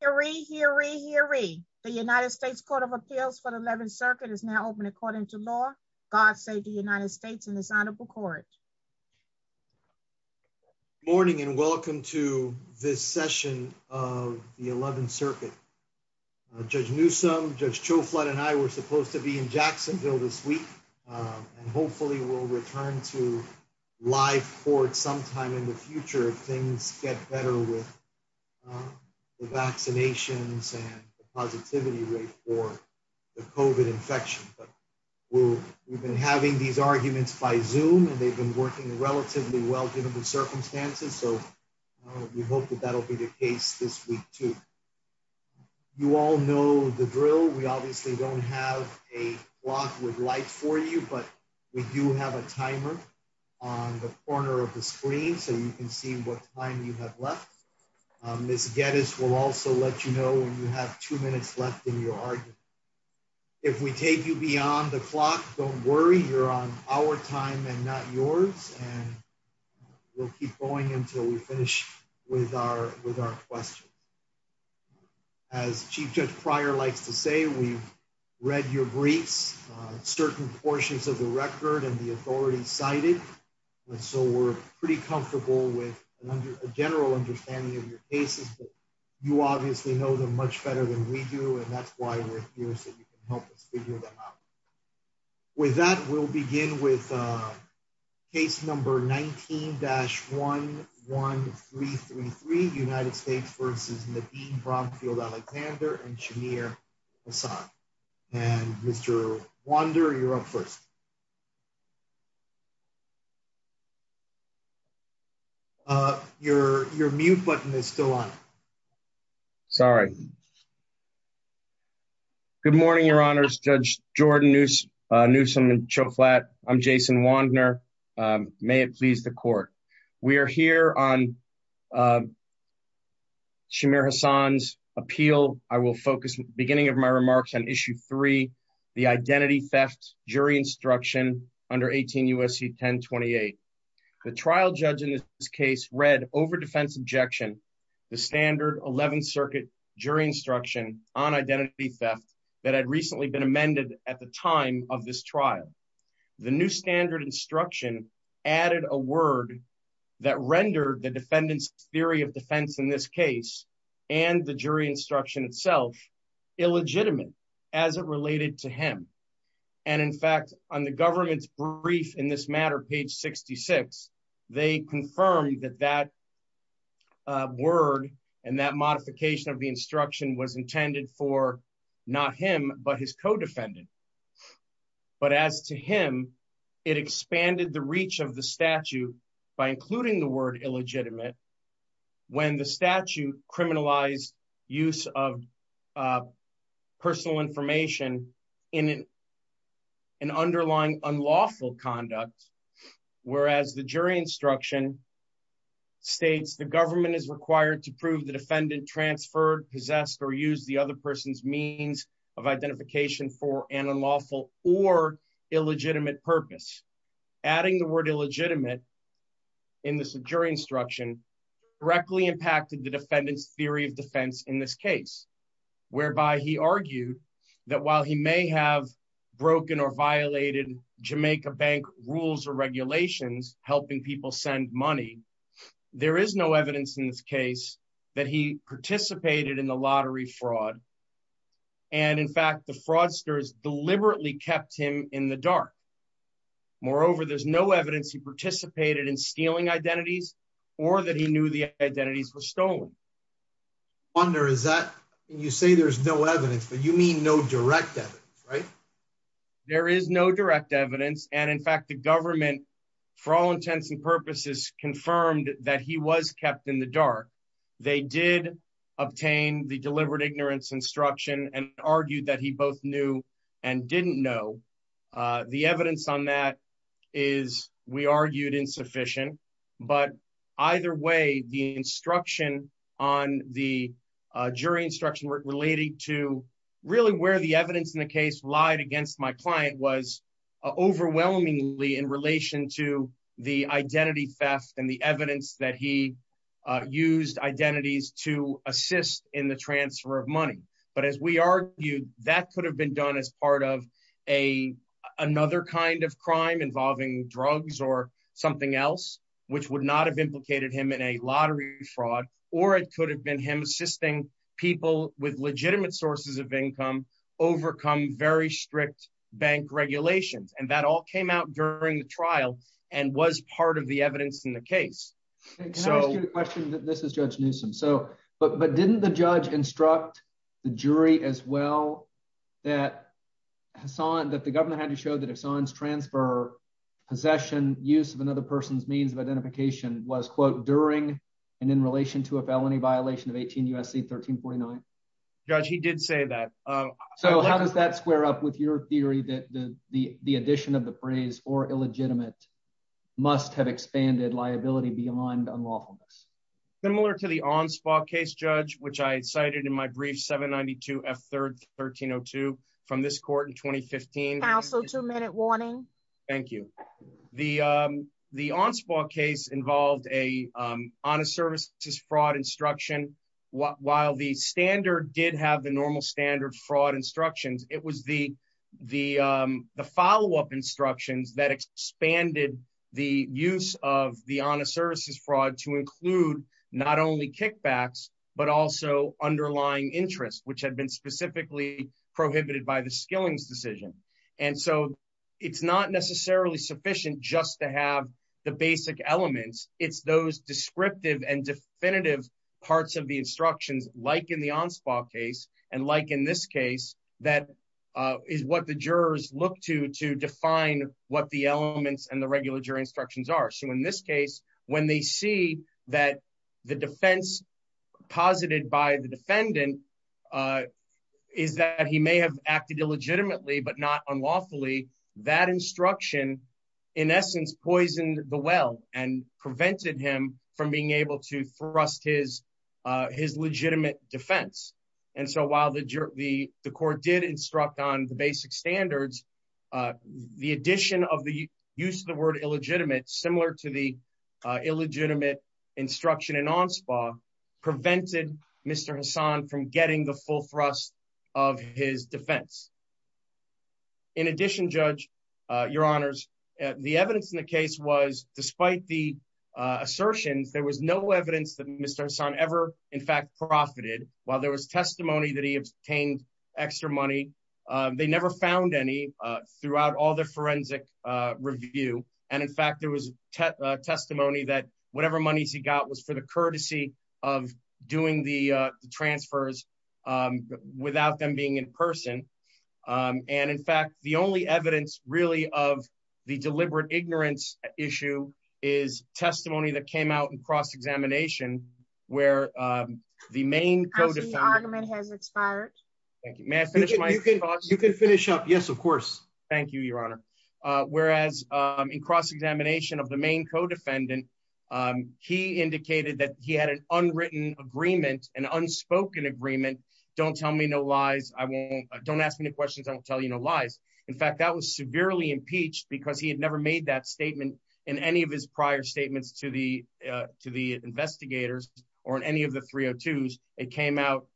Hear ye, hear ye, hear ye. The United States Court of Appeals for the 11th Circuit is now open according to law. God save the United States and His Honorable Court. Good morning and welcome to this session of the 11th Circuit. Judge Newsome, Judge Chouflat and I were supposed to be in Jacksonville this week and hopefully we'll return to live court sometime in the future if things get better with the vaccinations and the positivity rate for the COVID infection. But we've been having these arguments by Zoom and they've been working relatively well given the circumstances so we hope that that'll be the case this week too. You all know the drill. We obviously don't have a clock with light for you but we do have a timer on the corner of the screen so you can see what time you have left. Ms. Geddes will also let you know when you have two minutes left in your argument. If we take you beyond the clock, don't worry, you're on our time and not yours and we'll keep going until we finish with our questions. As Chief Judge Pryor likes to say, we've read your briefs, certain portions of the record and the authorities cited and so we're pretty comfortable with a general understanding of your cases but you obviously know them much better than we do and that's why we're here so you can help us figure them out. With that we'll begin with case number 19-11333 United States versus Nadine Bromfield Alexander and Shamir Hassan. Mr. Wander, you're up first. Your mute button is still on. Sorry. Good morning, Your Honors, Judge Jordan Newsom and Cho Flatt. I'm Jason Wander. May it please the court. We are here on Shamir Hassan's appeal. I will focus the beginning of my remarks on issue three, the identity theft jury instruction under 18 U.S.C. 1028. The trial judge in this case read over defense objection the standard 11th circuit jury instruction on identity theft that had amended at the time of this trial. The new standard instruction added a word that rendered the defendant's theory of defense in this case and the jury instruction itself illegitimate as it related to him and in fact on the government's brief in this matter, page 66, they confirmed that that word and that modification of the instruction was intended for not him but his co-defendant but as to him it expanded the reach of the statute by including the word illegitimate when the statute criminalized use of personal information in an underlying unlawful conduct whereas the jury instruction states the government is required to prove the defendant transferred possessed or used the other person's means of identification for an unlawful or illegitimate purpose. Adding the word illegitimate in this jury instruction directly impacted the defendant's theory of defense in this case whereby he argued that while he may have broken or violated Jamaica Bank rules or regulations helping people send money, there is no evidence in this case that he participated in the lottery fraud and in fact the fraudsters deliberately kept him in the dark. Moreover there's no evidence he participated in stealing identities or that he knew the identities were stolen. I wonder is that you say there's no evidence but you mean no direct evidence right? There is no direct evidence and in fact the government for all intents and purposes confirmed that he was kept in the dark. They did obtain the deliberate ignorance instruction and argued that he both knew and didn't know. The evidence on that is we argued insufficient but either way the instruction on the jury instruction relating to really where the evidence in the case lied against my client was overwhelmingly in relation to the identity theft and the evidence that he used identities to assist in the transfer of money. But as we argued that could have been done as part of another kind of crime involving drugs or something else which would not have implicated him in a lottery fraud or it could have been him assisting people with legitimate strict bank regulations and that all came out during the trial and was part of the evidence in the case. Can I ask you a question? This is Judge Newsom so but didn't the judge instruct the jury as well that Hassan that the government had to show that Hassan's transfer possession use of another person's means of identification was quote during and in relation to a felony violation of 18 U.S.C. 1349? Judge he did say that. So how does that square up with your theory that the the addition of the phrase or illegitimate must have expanded liability beyond unlawfulness? Similar to the Onspaw case judge which I cited in my brief 792 F 3rd 1302 from this court in 2015. Counsel two minute warning. Thank you. The Onspaw case involved a honest services fraud instruction while the standard did have the normal standard fraud instructions it was the the the follow-up instructions that expanded the use of the honest services fraud to include not only kickbacks but also underlying interest which had been specifically prohibited by the skillings decision and so it's not necessarily sufficient just to have the basic elements it's those descriptive and definitive parts of the instructions like in the Onspaw case and like in this case that is what the jurors look to to define what the elements and the regular jury instructions are so in this case when they see that the defense posited by the defendant is that he may have acted illegitimately but not unlawfully that instruction in essence poisoned the well and prevented him from being able to thrust his his legitimate defense and so while the the court did instruct on the basic standards the addition of the use of the word illegitimate similar to the illegitimate instruction in Onspaw prevented Mr. Hassan from getting the full thrust of his defense in addition judge your honors the evidence in the case was despite the assertions there was no evidence that Mr. Hassan ever in fact profited while there was testimony that he obtained extra money they never found any throughout all the forensic review and in fact there was testimony that whatever monies he got was for the courtesy of doing the transfers without them being in person and in fact the only evidence really of the deliberate ignorance issue is testimony that came out in cross-examination where the main argument has expired thank you may I finish you can finish up yes of course thank you your honor whereas in cross-examination of the main co-defendant he indicated that he had an unwritten agreement an unspoken agreement don't tell me no lies I won't don't ask me any questions I'll tell you no lies in fact that was severely impeached because he had never made that statement in any of his prior statements to the uh to the investigators or in any of the 302s it came out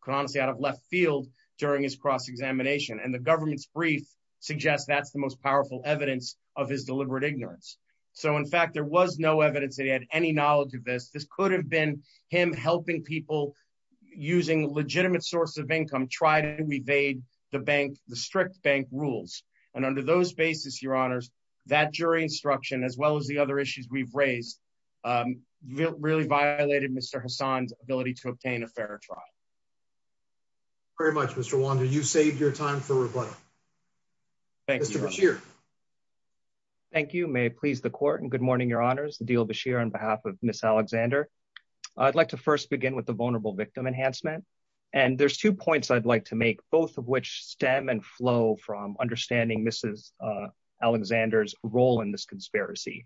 could honestly out of left field during his cross-examination and the government's brief suggests that's the most powerful evidence of his deliberate ignorance so in fact there was no evidence that he had any knowledge of this this could have been him helping people using legitimate source of income try to evade the bank the strict bank rules and under those basis your honors that jury instruction as well as the other issues we've raised um really violated Mr. Hassan's ability to obtain a fair trial very much Mr. Wanda you saved your time for rebuttal thank you Mr. Bashir thank you may it please the court and good morning your honors Adeel Bashir on behalf of Ms. Alexander I'd like to first begin with the vulnerable victim enhancement and there's two points I'd like to make both of which stem and flow from understanding Mrs. Alexander's role in this conspiracy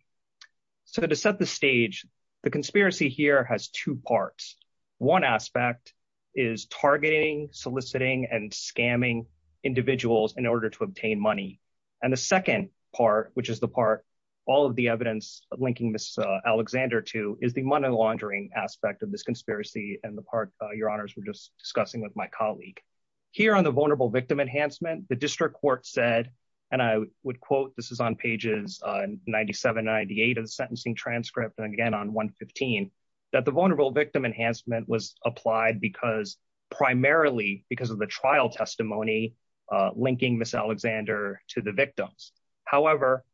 so to set the stage the conspiracy here has two parts one aspect is targeting soliciting and scamming individuals in order to obtain money and the second part which is the part all of the evidence linking Ms. Alexander to is the money laundering aspect of this conspiracy and the part your honors were just discussing with my colleague here on the vulnerable victim enhancement the district court said and I would quote this is pages 97 98 of the sentencing transcript and again on 115 that the vulnerable victim enhancement was applied because primarily because of the trial testimony linking Ms. Alexander to the victims however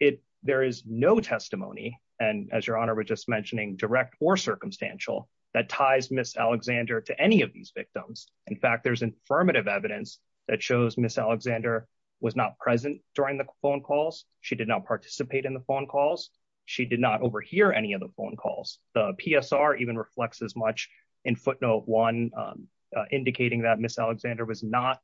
it there is no testimony and as your honor we're just mentioning direct or circumstantial that ties Ms. Alexander to any of these victims in fact there's affirmative evidence that shows Ms. Alexander was not present during the phone calls she did not participate in the phone calls she did not overhear any of the phone calls the PSR even reflects as much in footnote one indicating that Ms. Alexander was not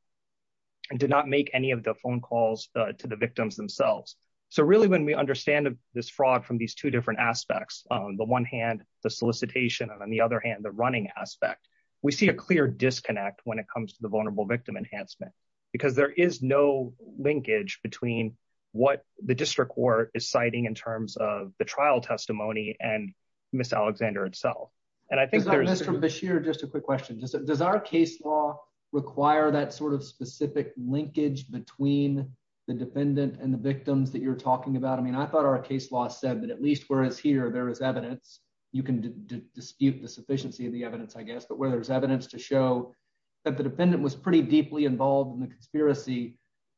and did not make any of the phone calls to the victims themselves so really when we understand this fraud from these two different aspects on the one hand the solicitation and on the other hand the running aspect we see a clear disconnect when it comes to victim enhancement because there is no linkage between what the district court is citing in terms of the trial testimony and Ms. Alexander itself and I think Mr. Bashir just a quick question does our case law require that sort of specific linkage between the defendant and the victims that you're talking about I mean I thought our case law said that at least whereas here there is evidence you can dispute the sufficiency of the evidence I guess but where there's evidence to show that the defendant was pretty deeply involved in the conspiracy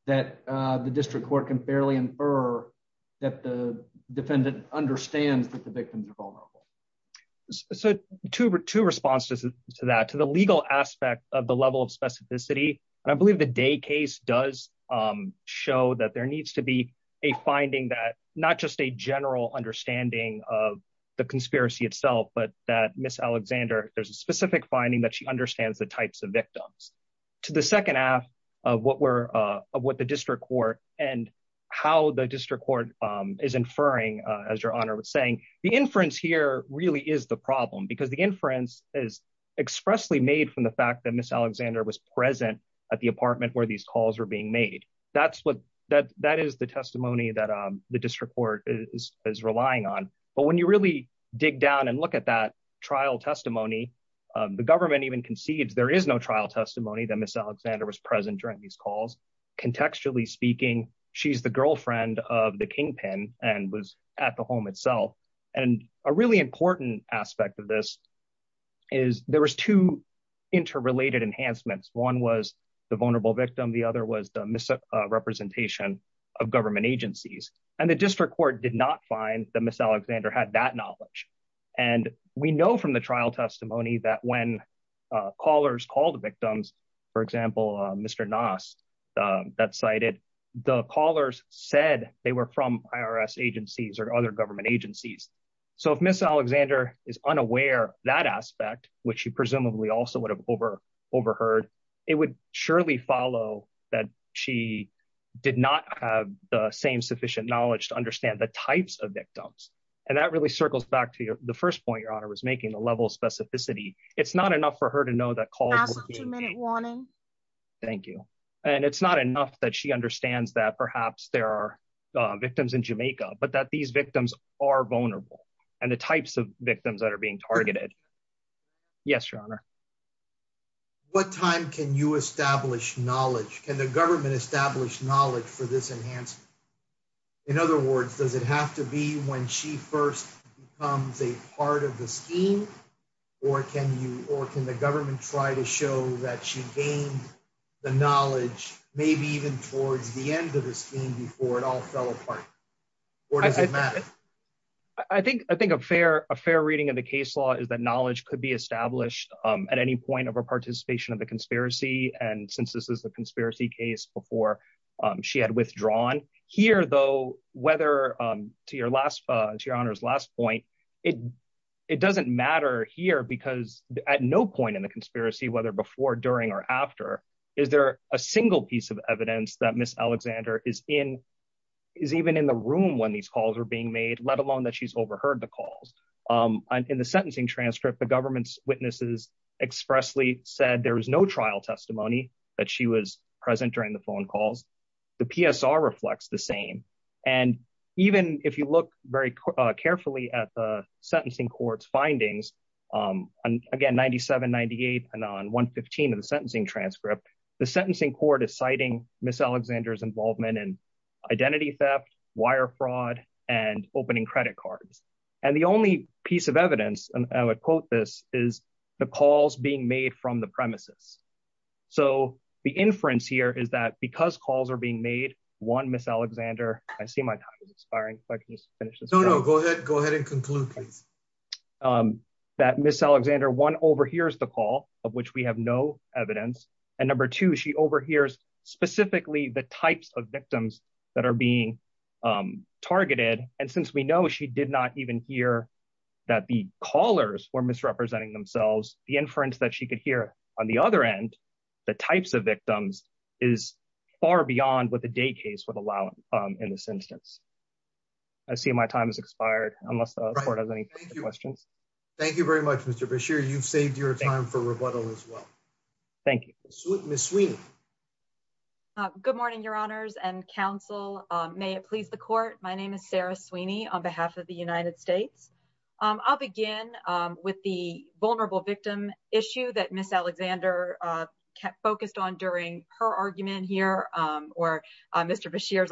that the district court can fairly infer that the defendant understands that the victims are vulnerable so two responses to that to the legal aspect of the level of specificity and I believe the day case does show that there needs to be a finding that not just a general understanding of the conspiracy itself but that Ms. Alexander there's a specific finding that she understands the types of victims to the second half of what we're of what the district court and how the district court is inferring as your honor was saying the inference here really is the problem because the inference is expressly made from the fact that Ms. Alexander was present at the apartment where these calls were being made that's what that that is the testimony that the district is relying on but when you really dig down and look at that trial testimony the government even concedes there is no trial testimony that Ms. Alexander was present during these calls contextually speaking she's the girlfriend of the kingpin and was at the home itself and a really important aspect of this is there was two interrelated enhancements one was the vulnerable court did not find that Ms. Alexander had that knowledge and we know from the trial testimony that when callers called the victims for example Mr. Nost that cited the callers said they were from IRS agencies or other government agencies so if Ms. Alexander is unaware that aspect which she presumably also would have over overheard it would surely follow that she did not have same sufficient knowledge to understand the types of victims and that really circles back to the first point your honor was making the level of specificity it's not enough for her to know that thank you and it's not enough that she understands that perhaps there are victims in Jamaica but that these victims are vulnerable and the types of victims that are being targeted yes your honor what time can you establish knowledge can the government establish knowledge for this enhancement in other words does it have to be when she first becomes a part of the scheme or can you or can the government try to show that she gained the knowledge maybe even towards the end of the scheme before it all fell apart or does it matter i think i think a fair a fair reading of the case is that knowledge could be established at any point of her participation of the conspiracy and since this is a conspiracy case before she had withdrawn here though whether to your last to your honor's last point it it doesn't matter here because at no point in the conspiracy whether before during or after is there a single piece of evidence that miss alexander is in is even in the made let alone that she's overheard the calls um in the sentencing transcript the government's witnesses expressly said there was no trial testimony that she was present during the phone calls the psr reflects the same and even if you look very carefully at the sentencing court's findings um and again 97 98 and on 115 of the sentencing transcript the sentencing court is involvement in identity theft wire fraud and opening credit cards and the only piece of evidence and i would quote this is the calls being made from the premises so the inference here is that because calls are being made one miss alexander i see my time is expiring if i can just finish this no no go ahead go ahead and conclude please um that miss alexander one overhears the of which we have no evidence and number two she overhears specifically the types of victims that are being um targeted and since we know she did not even hear that the callers were misrepresenting themselves the inference that she could hear on the other end the types of victims is far beyond what the day case would allow um in this instance i see my time has expired unless the court has questions thank you very much mr basheer you've saved your time for rebuttal as well thank you miss sweeney uh good morning your honors and counsel um may it please the court my name is sarah sweeney on behalf of the united states um i'll begin um with the vulnerable victim issue that miss alexander uh kept focused on during her argument here um or mr basheer's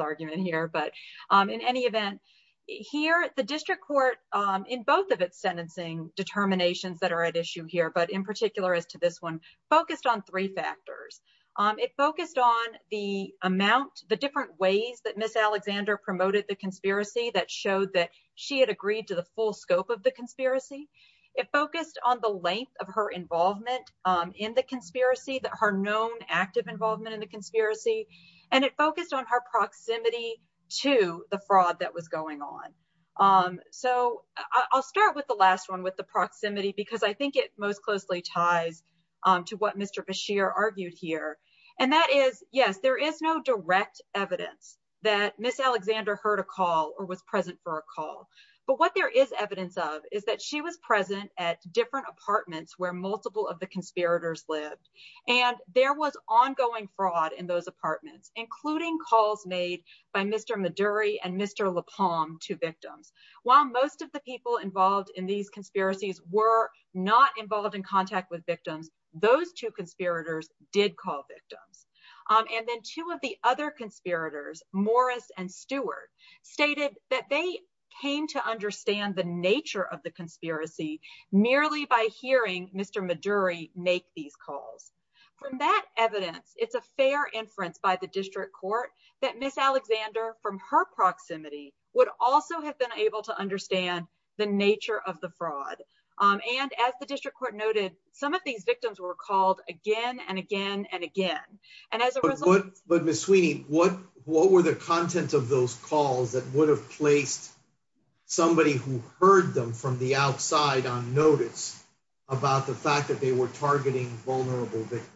both of its sentencing determinations that are at issue here but in particular as to this one focused on three factors um it focused on the amount the different ways that miss alexander promoted the conspiracy that showed that she had agreed to the full scope of the conspiracy it focused on the length of her involvement um in the conspiracy that her known active involvement in the conspiracy and it focused on her proximity to the fraud that was going on um so i'll start with the last one with the proximity because i think it most closely ties um to what mr basheer argued here and that is yes there is no direct evidence that miss alexander heard a call or was present for a call but what there is evidence of is that she was present at different apartments where multiple of the conspirators lived and there was ongoing fraud in those apartments including calls made by mr maduri and mr lapalm to victims while most of the people involved in these conspiracies were not involved in contact with victims those two conspirators did call victims um and then two of the other conspirators morris and stewart stated that they came to mr maduri make these calls from that evidence it's a fair inference by the district court that miss alexander from her proximity would also have been able to understand the nature of the fraud um and as the district court noted some of these victims were called again and again and again and as a result but miss sweeney what what were the content of those calls that would have placed somebody who heard them from the outside on notice about the fact that they were targeting vulnerable victims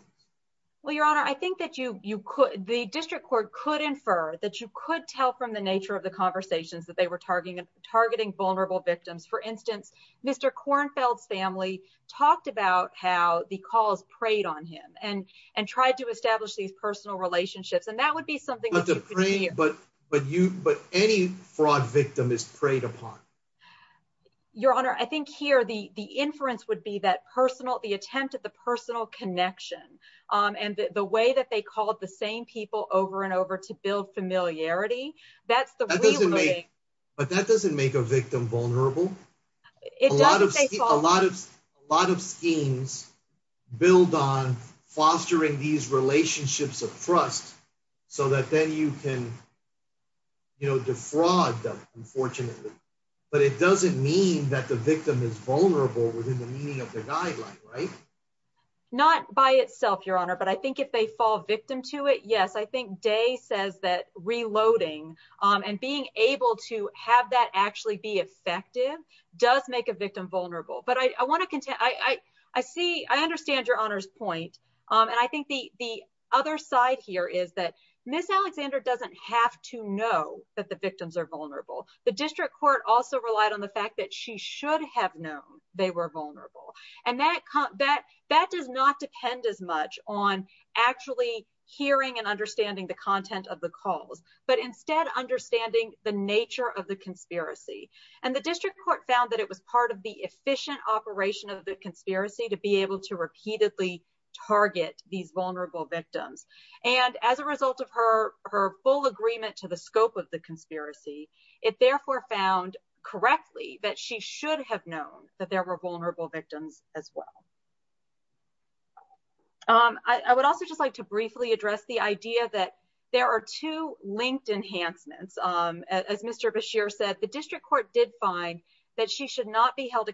well your honor i think that you you could the district court could infer that you could tell from the nature of the conversations that they were targeting targeting vulnerable victims for instance mr kornfeld's family talked about how the calls preyed on him and and tried to establish these personal relationships and that would be something but but you but any fraud victim is preyed upon your honor i think here the the inference would be that personal the attempt at the personal connection um and the way that they called the same people over and over to build familiarity that's the way but that doesn't make a victim vulnerable a lot of a lot of a lot of schemes build on fostering these relationships of trust so that then you can you know defraud them unfortunately but it doesn't mean that the victim is vulnerable within the meaning of the guideline right not by itself your honor but i think if they fall victim to it yes i think day says that reloading um and being able to have that actually be effective does make a victim vulnerable but i i want to contend i i i see i understand your honor's point um and i think the the other side here is that miss alexander doesn't have to know that the victims are vulnerable the district court also relied on the fact that she should have known they were vulnerable and that that that does not depend as much on actually hearing and understanding the content of the calls but instead understanding the nature of the conspiracy and the district court found that it was part of the efficient operation of the conspiracy to be able to repeatedly target these vulnerable victims and as a result of her her full agreement to the scope of the conspiracy it therefore found correctly that she should have known that there were vulnerable victims as well um i would also just like to briefly address the idea that there are two linked enhancements um as mr basheer said the district court did find that she should not be that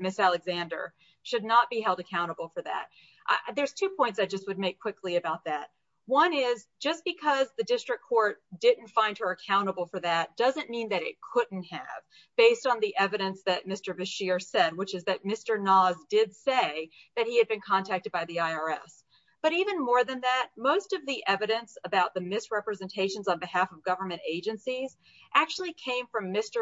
miss alexander should not be held accountable for that there's two points i just would make quickly about that one is just because the district court didn't find her accountable for that doesn't mean that it couldn't have based on the evidence that mr basheer said which is that mr noz did say that he had been contacted by the irs but even more than that most of the evidence about the misrepresentations on behalf of government agencies actually came from mr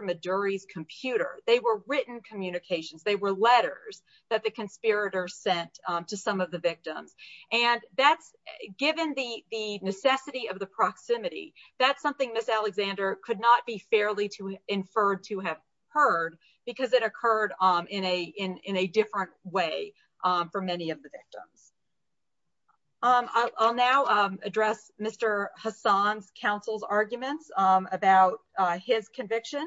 computer they were written communications they were letters that the conspirators sent to some of the victims and that's given the the necessity of the proximity that's something miss alexander could not be fairly to inferred to have heard because it occurred um in a in in a different way um for many of the victims um i'll now um address mr hassan's counsel's arguments um about uh his conviction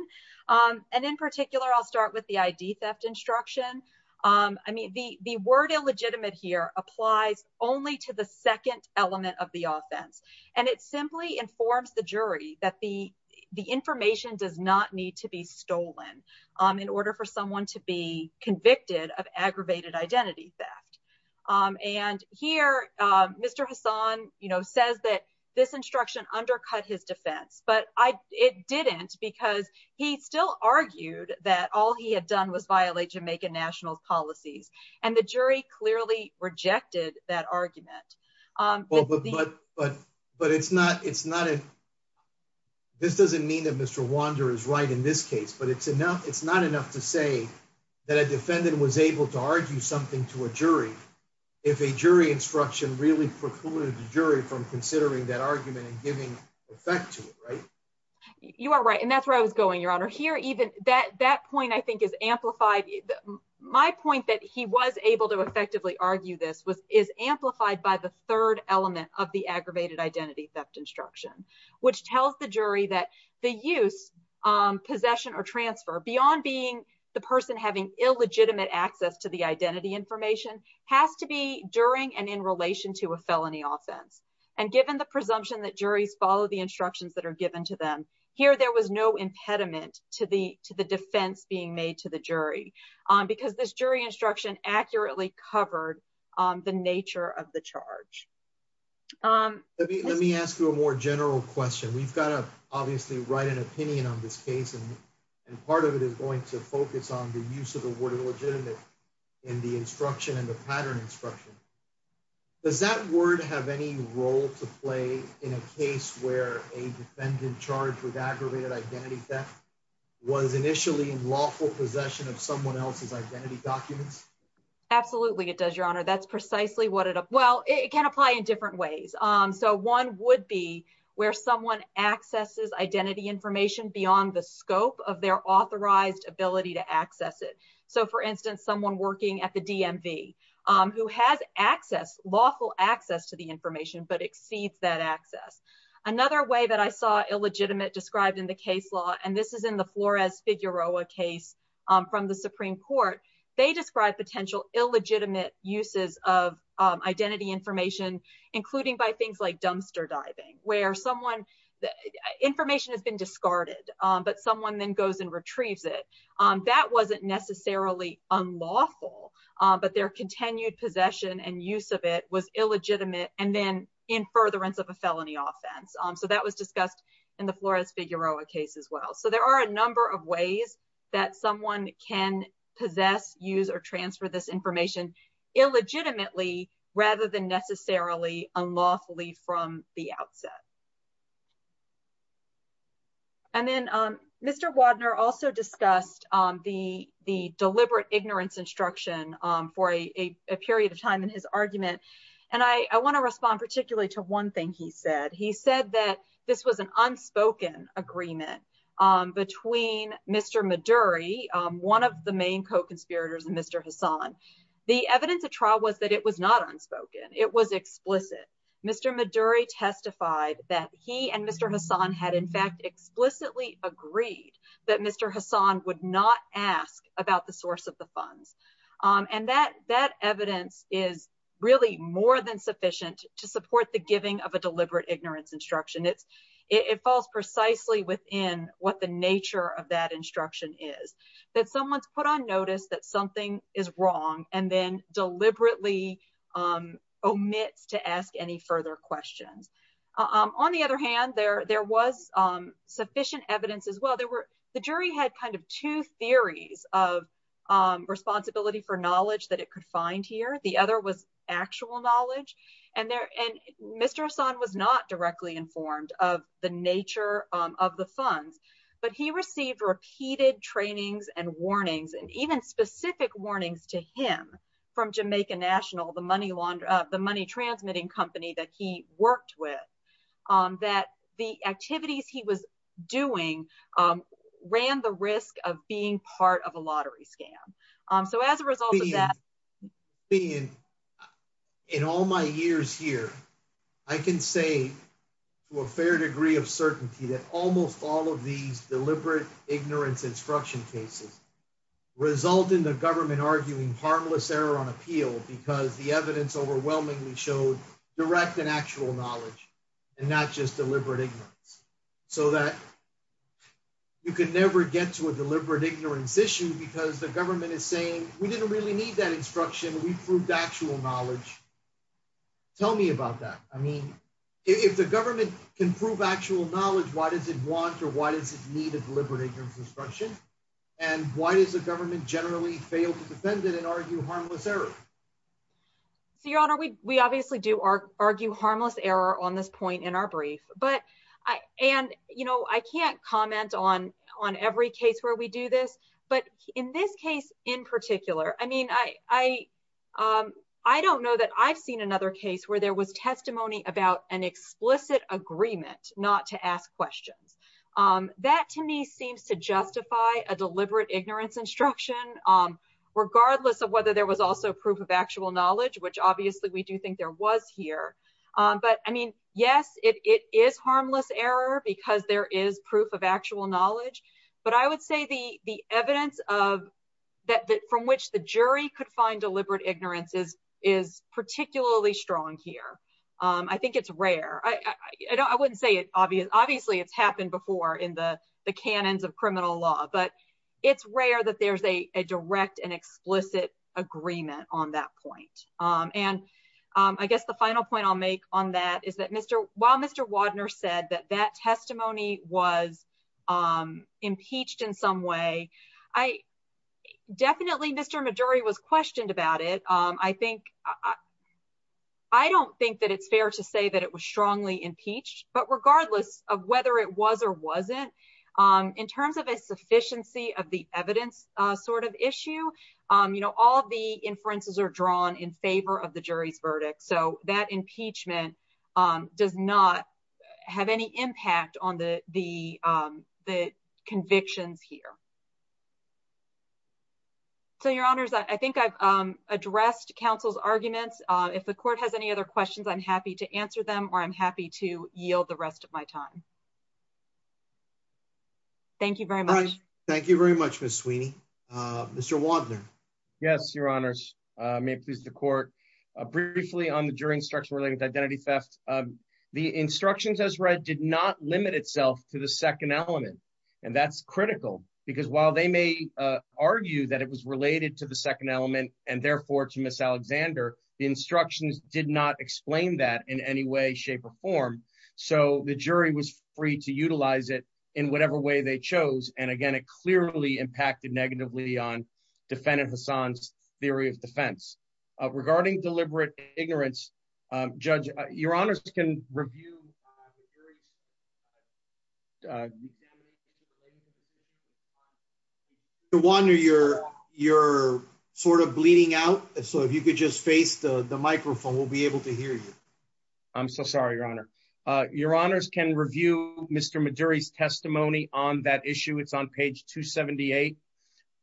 um and in particular i'll start with the id theft instruction um i mean the the word illegitimate here applies only to the second element of the offense and it simply informs the jury that the the information does not need to be stolen um in order for someone to be convicted of aggravated identity theft um and here uh mr hassan you know says that this instruction undercut his defense but i it didn't because he still argued that all he had done was violate jamaica national's policies and the jury clearly rejected that argument um but but but but it's not it's not a this doesn't mean that mr wander is right in this case but it's enough it's not enough to say that a defendant was able to argue something to a jury if a jury instruction really precluded the jury from considering that argument and giving effect to it right you are right and that's where i was going your honor here even that that point i think is amplified my point that he was able to effectively argue this was is amplified by the third element of the aggravated identity theft instruction which tells the jury that the use um possession or transfer beyond being the person having illegitimate access to the identity information has to be during and in relation to a felony offense and given the presumption that juries follow the instructions that are given to them here there was no impediment to the to the defense being made to the jury um because this jury instruction accurately covered um the nature of the charge um let me ask you a more general question we've got to obviously write an opinion on this case and and part of it is going to focus on the use of the word illegitimate in the instruction and the pattern instruction does that word have any role to play in a case where a defendant charged with aggravated identity theft was initially in lawful possession of someone else's identity documents absolutely it does your honor that's precisely what it well it can apply in different ways um so one would be where someone accesses identity information beyond the scope of their authorized ability to access it so for instance someone working at the dmv um who has access lawful access to the information but exceeds that access another way that i saw illegitimate described in the case law and this is in the flores figueroa case um from the supreme court they describe potential illegitimate uses of identity information including by things like dumpster diving where someone information has been discarded but someone then goes and retrieves it that wasn't necessarily unlawful but their continued possession and use of it was illegitimate and then in furtherance of a felony offense so that was discussed in the flores figueroa case as well so there are a number of ways that someone can possess use or transfer this information illegitimately rather than unlawfully from the outset and then um mr wagner also discussed um the the deliberate ignorance instruction um for a a period of time in his argument and i i want to respond particularly to one thing he said he said that this was an unspoken agreement um between mr maduri um one the main co-conspirators and mr hassan the evidence of trial was that it was not unspoken it was explicit mr maduri testified that he and mr hassan had in fact explicitly agreed that mr hassan would not ask about the source of the funds um and that that evidence is really more than sufficient to support the giving of a deliberate ignorance instruction it's it falls precisely within what the nature of that instruction is that someone's put on notice that something is wrong and then deliberately um omits to ask any further questions um on the other hand there there was um sufficient evidence as well there were the jury had kind of two theories of um responsibility for knowledge that it could find here the other was actual knowledge and there and mr hassan was not directly informed of the nature of the funds but he received repeated trainings and warnings and even specific warnings to him from jamaica national the money laundry the money transmitting company that he worked with um that the activities he was doing ran the risk of being part of a lottery scam um so as a result of that being in all my years here i can say to a fair degree of certainty that almost all of these deliberate ignorance instruction cases result in the government arguing harmless error on appeal because the evidence overwhelmingly showed direct and actual knowledge and not just deliberate ignorance so that you could never get to a deliberate ignorance issue because the government is saying we didn't really need that instruction we proved actual knowledge tell me about that i mean if the government can prove actual knowledge why does it want or why does it need a deliberate ignorance instruction and why does the government generally fail to defend it and argue harmless error so your honor we we obviously do our argue harmless error on this point in our brief but i and you know i can't comment on on every case where we do this but in this case in particular i mean i i um i don't know that i've seen another case where there was testimony about an explicit agreement not to ask questions um that to me seems to justify a deliberate ignorance instruction um regardless of whether there was also proof of actual knowledge which obviously we do think there was here um but i mean yes it it is harmless error because there is proof of actual knowledge but i would say the the evidence of that from which the jury could find deliberate ignorance is is particularly strong here um i think it's rare i i don't i wouldn't say it obvious obviously it's happened before in the the canons of criminal law but it's rare that there's a a direct and explicit agreement on that point um and um i guess the final point i'll make on that is that mr while mr wadner said that that testimony was um impeached in some way i definitely mr maduri was questioned about it um i think i i don't think that it's fair to say that it was strongly impeached but regardless of whether it was or wasn't um in terms of a sufficiency of the evidence uh sort of issue um you know all the inferences are drawn in favor of the jury's verdict so that impeachment um does not have any impact on the the um the convictions here so your honors i think i've um addressed counsel's arguments uh if the court has any other questions i'm happy to answer them or i'm happy to yield the rest of my time thank you very much thank you very much miss sweeney uh mr wadner yes your honors uh may please the court uh briefly on the jury instruction related identity theft um the instructions as read did not limit itself to the second element and that's critical because while they may uh argue that it was related to the second element and therefore to miss alexander the instructions did not explain that in any way shape or form so the jury was free to utilize it in whatever way they chose and again it clearly impacted negatively on defendant hassan's theory of defense regarding deliberate ignorance judge your honors can review the jury's uh the wonder you're you're sort of bleeding out so if you could just face the the microphone we'll be able to hear you i'm so sorry your honor uh your honors can review mr maduri's testimony on that issue it's on page 278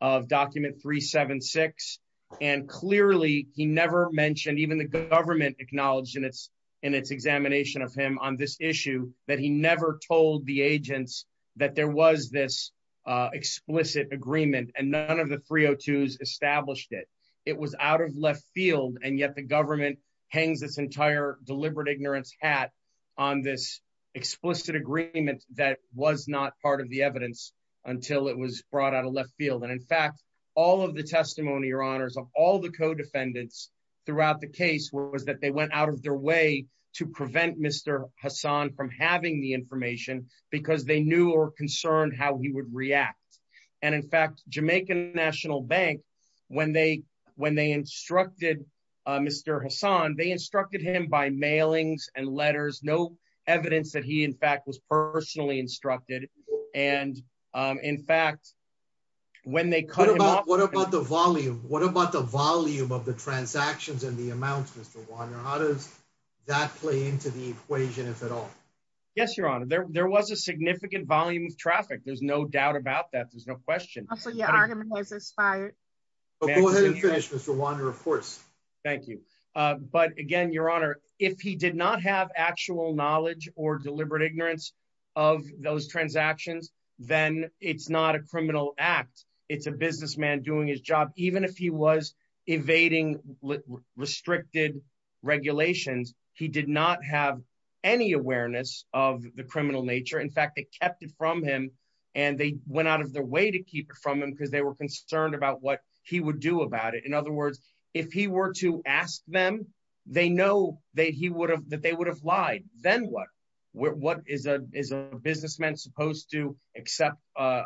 of document 376 and clearly he never mentioned even the government acknowledged in its in its examination of him on this issue that he never told the agents that there was this uh explicit agreement and none of the 302s established it it was out of left field and yet the government hangs this entire deliberate ignorance hat on this explicit agreement that was not part of the evidence until it was brought out of left field and in fact all of the testimony your honors of all the co-defendants throughout the case was that they went out of their way to prevent mr hassan from having the information because they knew or concerned how he would react and in fact jamaican national bank when they when they instructed uh mr hassan they instructed him by mailings and letters no evidence that he in fact was personally instructed and um in fact when they cut him off what about the volume what about the volume of the transactions and the amounts mr wander how does that play into the equation if at all yes your honor there there was a significant volume of traffic there's no doubt about that there's no question so your argument has expired but go ahead and finish mr wander of course thank you uh but again your honor if he did not have actual knowledge or deliberate ignorance of those transactions then it's not a criminal act it's a businessman doing his job even if he was evading restricted regulations he did not have any awareness of the criminal nature in fact they kept it from him and they went out of their way to keep it from him because they were concerned about what he would do about it in other words if he were to ask them they know that he would have that they would have lied then what what is a is a businessman supposed to accept uh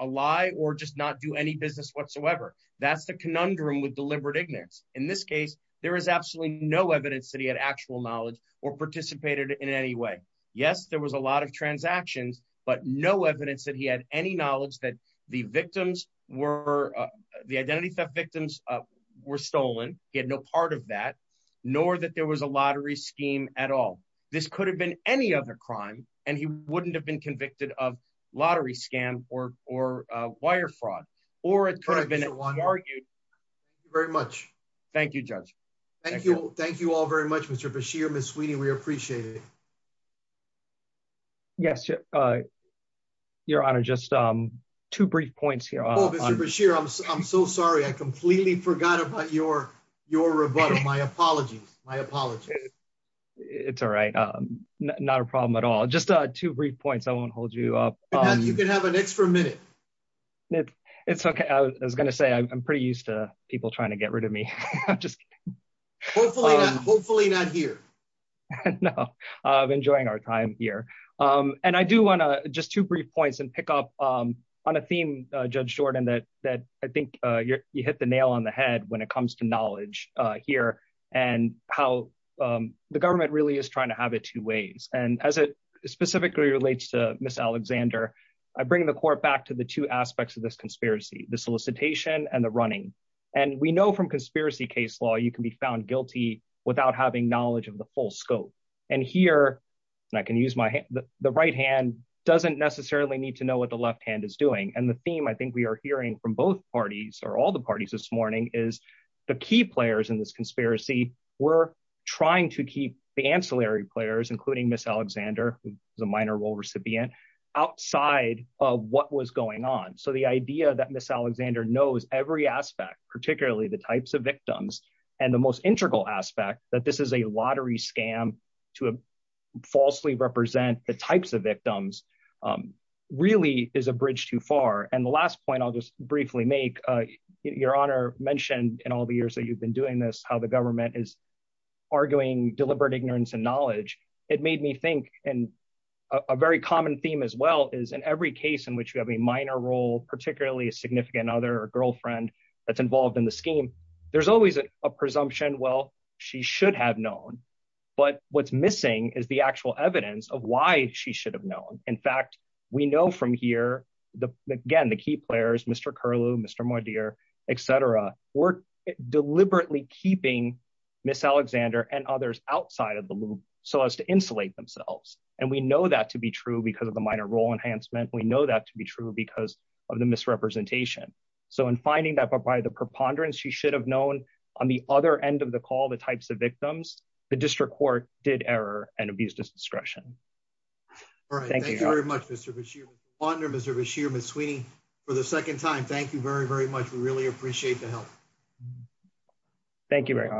a lie or just not do any business whatsoever that's the conundrum with deliberate ignorance in this case there is absolutely no evidence that he had actual knowledge or participated in any way yes there was a lot of transactions but no evidence that he had any knowledge that the victims were the identity theft victims were stolen he had no part of that nor that there was a lottery scheme at all this could have been any other crime and he wouldn't have been convicted of lottery scam or or wire fraud or it could have been argued very much thank you judge thank you thank you all very much mr basheer miss weenie we appreciate it yes uh your honor just um two brief points here i'm so sorry i completely forgot about your your rebuttal my apologies my apologies it's all right um not a problem at all just uh two brief points i won't hold you up you can have an extra minute it's okay i was gonna say i'm pretty used to people trying to get rid of me just hopefully hopefully not here no i'm enjoying our time here um and i do want to just two brief points and pick um on a theme uh judge jordan that that i think uh you hit the nail on the head when it comes to knowledge uh here and how um the government really is trying to have it two ways and as it specifically relates to miss alexander i bring the court back to the two aspects of this conspiracy the solicitation and the running and we know from conspiracy case law you can be found guilty without having knowledge of the full scope and here and i can use my the right hand doesn't necessarily need to know what the left hand is doing and the theme i think we are hearing from both parties or all the parties this morning is the key players in this conspiracy were trying to keep the ancillary players including miss alexander as a minor role recipient outside of what was going on so the idea that miss alexander knows every aspect particularly the types of victims and the most integral aspect that this is a lottery scam to falsely represent the types of victims really is a bridge too far and the last point i'll just briefly make uh your honor mentioned in all the years that you've been doing this how the government is arguing deliberate ignorance and knowledge it made me think and a very common theme as well is in every case in which you have a minor role particularly a significant other or girlfriend that's involved in the scheme there's always a presumption well she should have known but what's missing is the actual evidence of why she should have known in fact we know from here the again the key players mr curlew mr mordier etc were deliberately keeping miss alexander and others outside of the loop so as to insulate themselves and we know that to be true because of the minor role enhancement we know that to be true because of the misrepresentation so in finding that by the preponderance she should have known on the other end of the call the types of victims the district court did error and abused his discretion all right thank you very much mr basheer ponder mr basheer miss sweeney for the second time thank you very very much we really appreciate the help thank you very much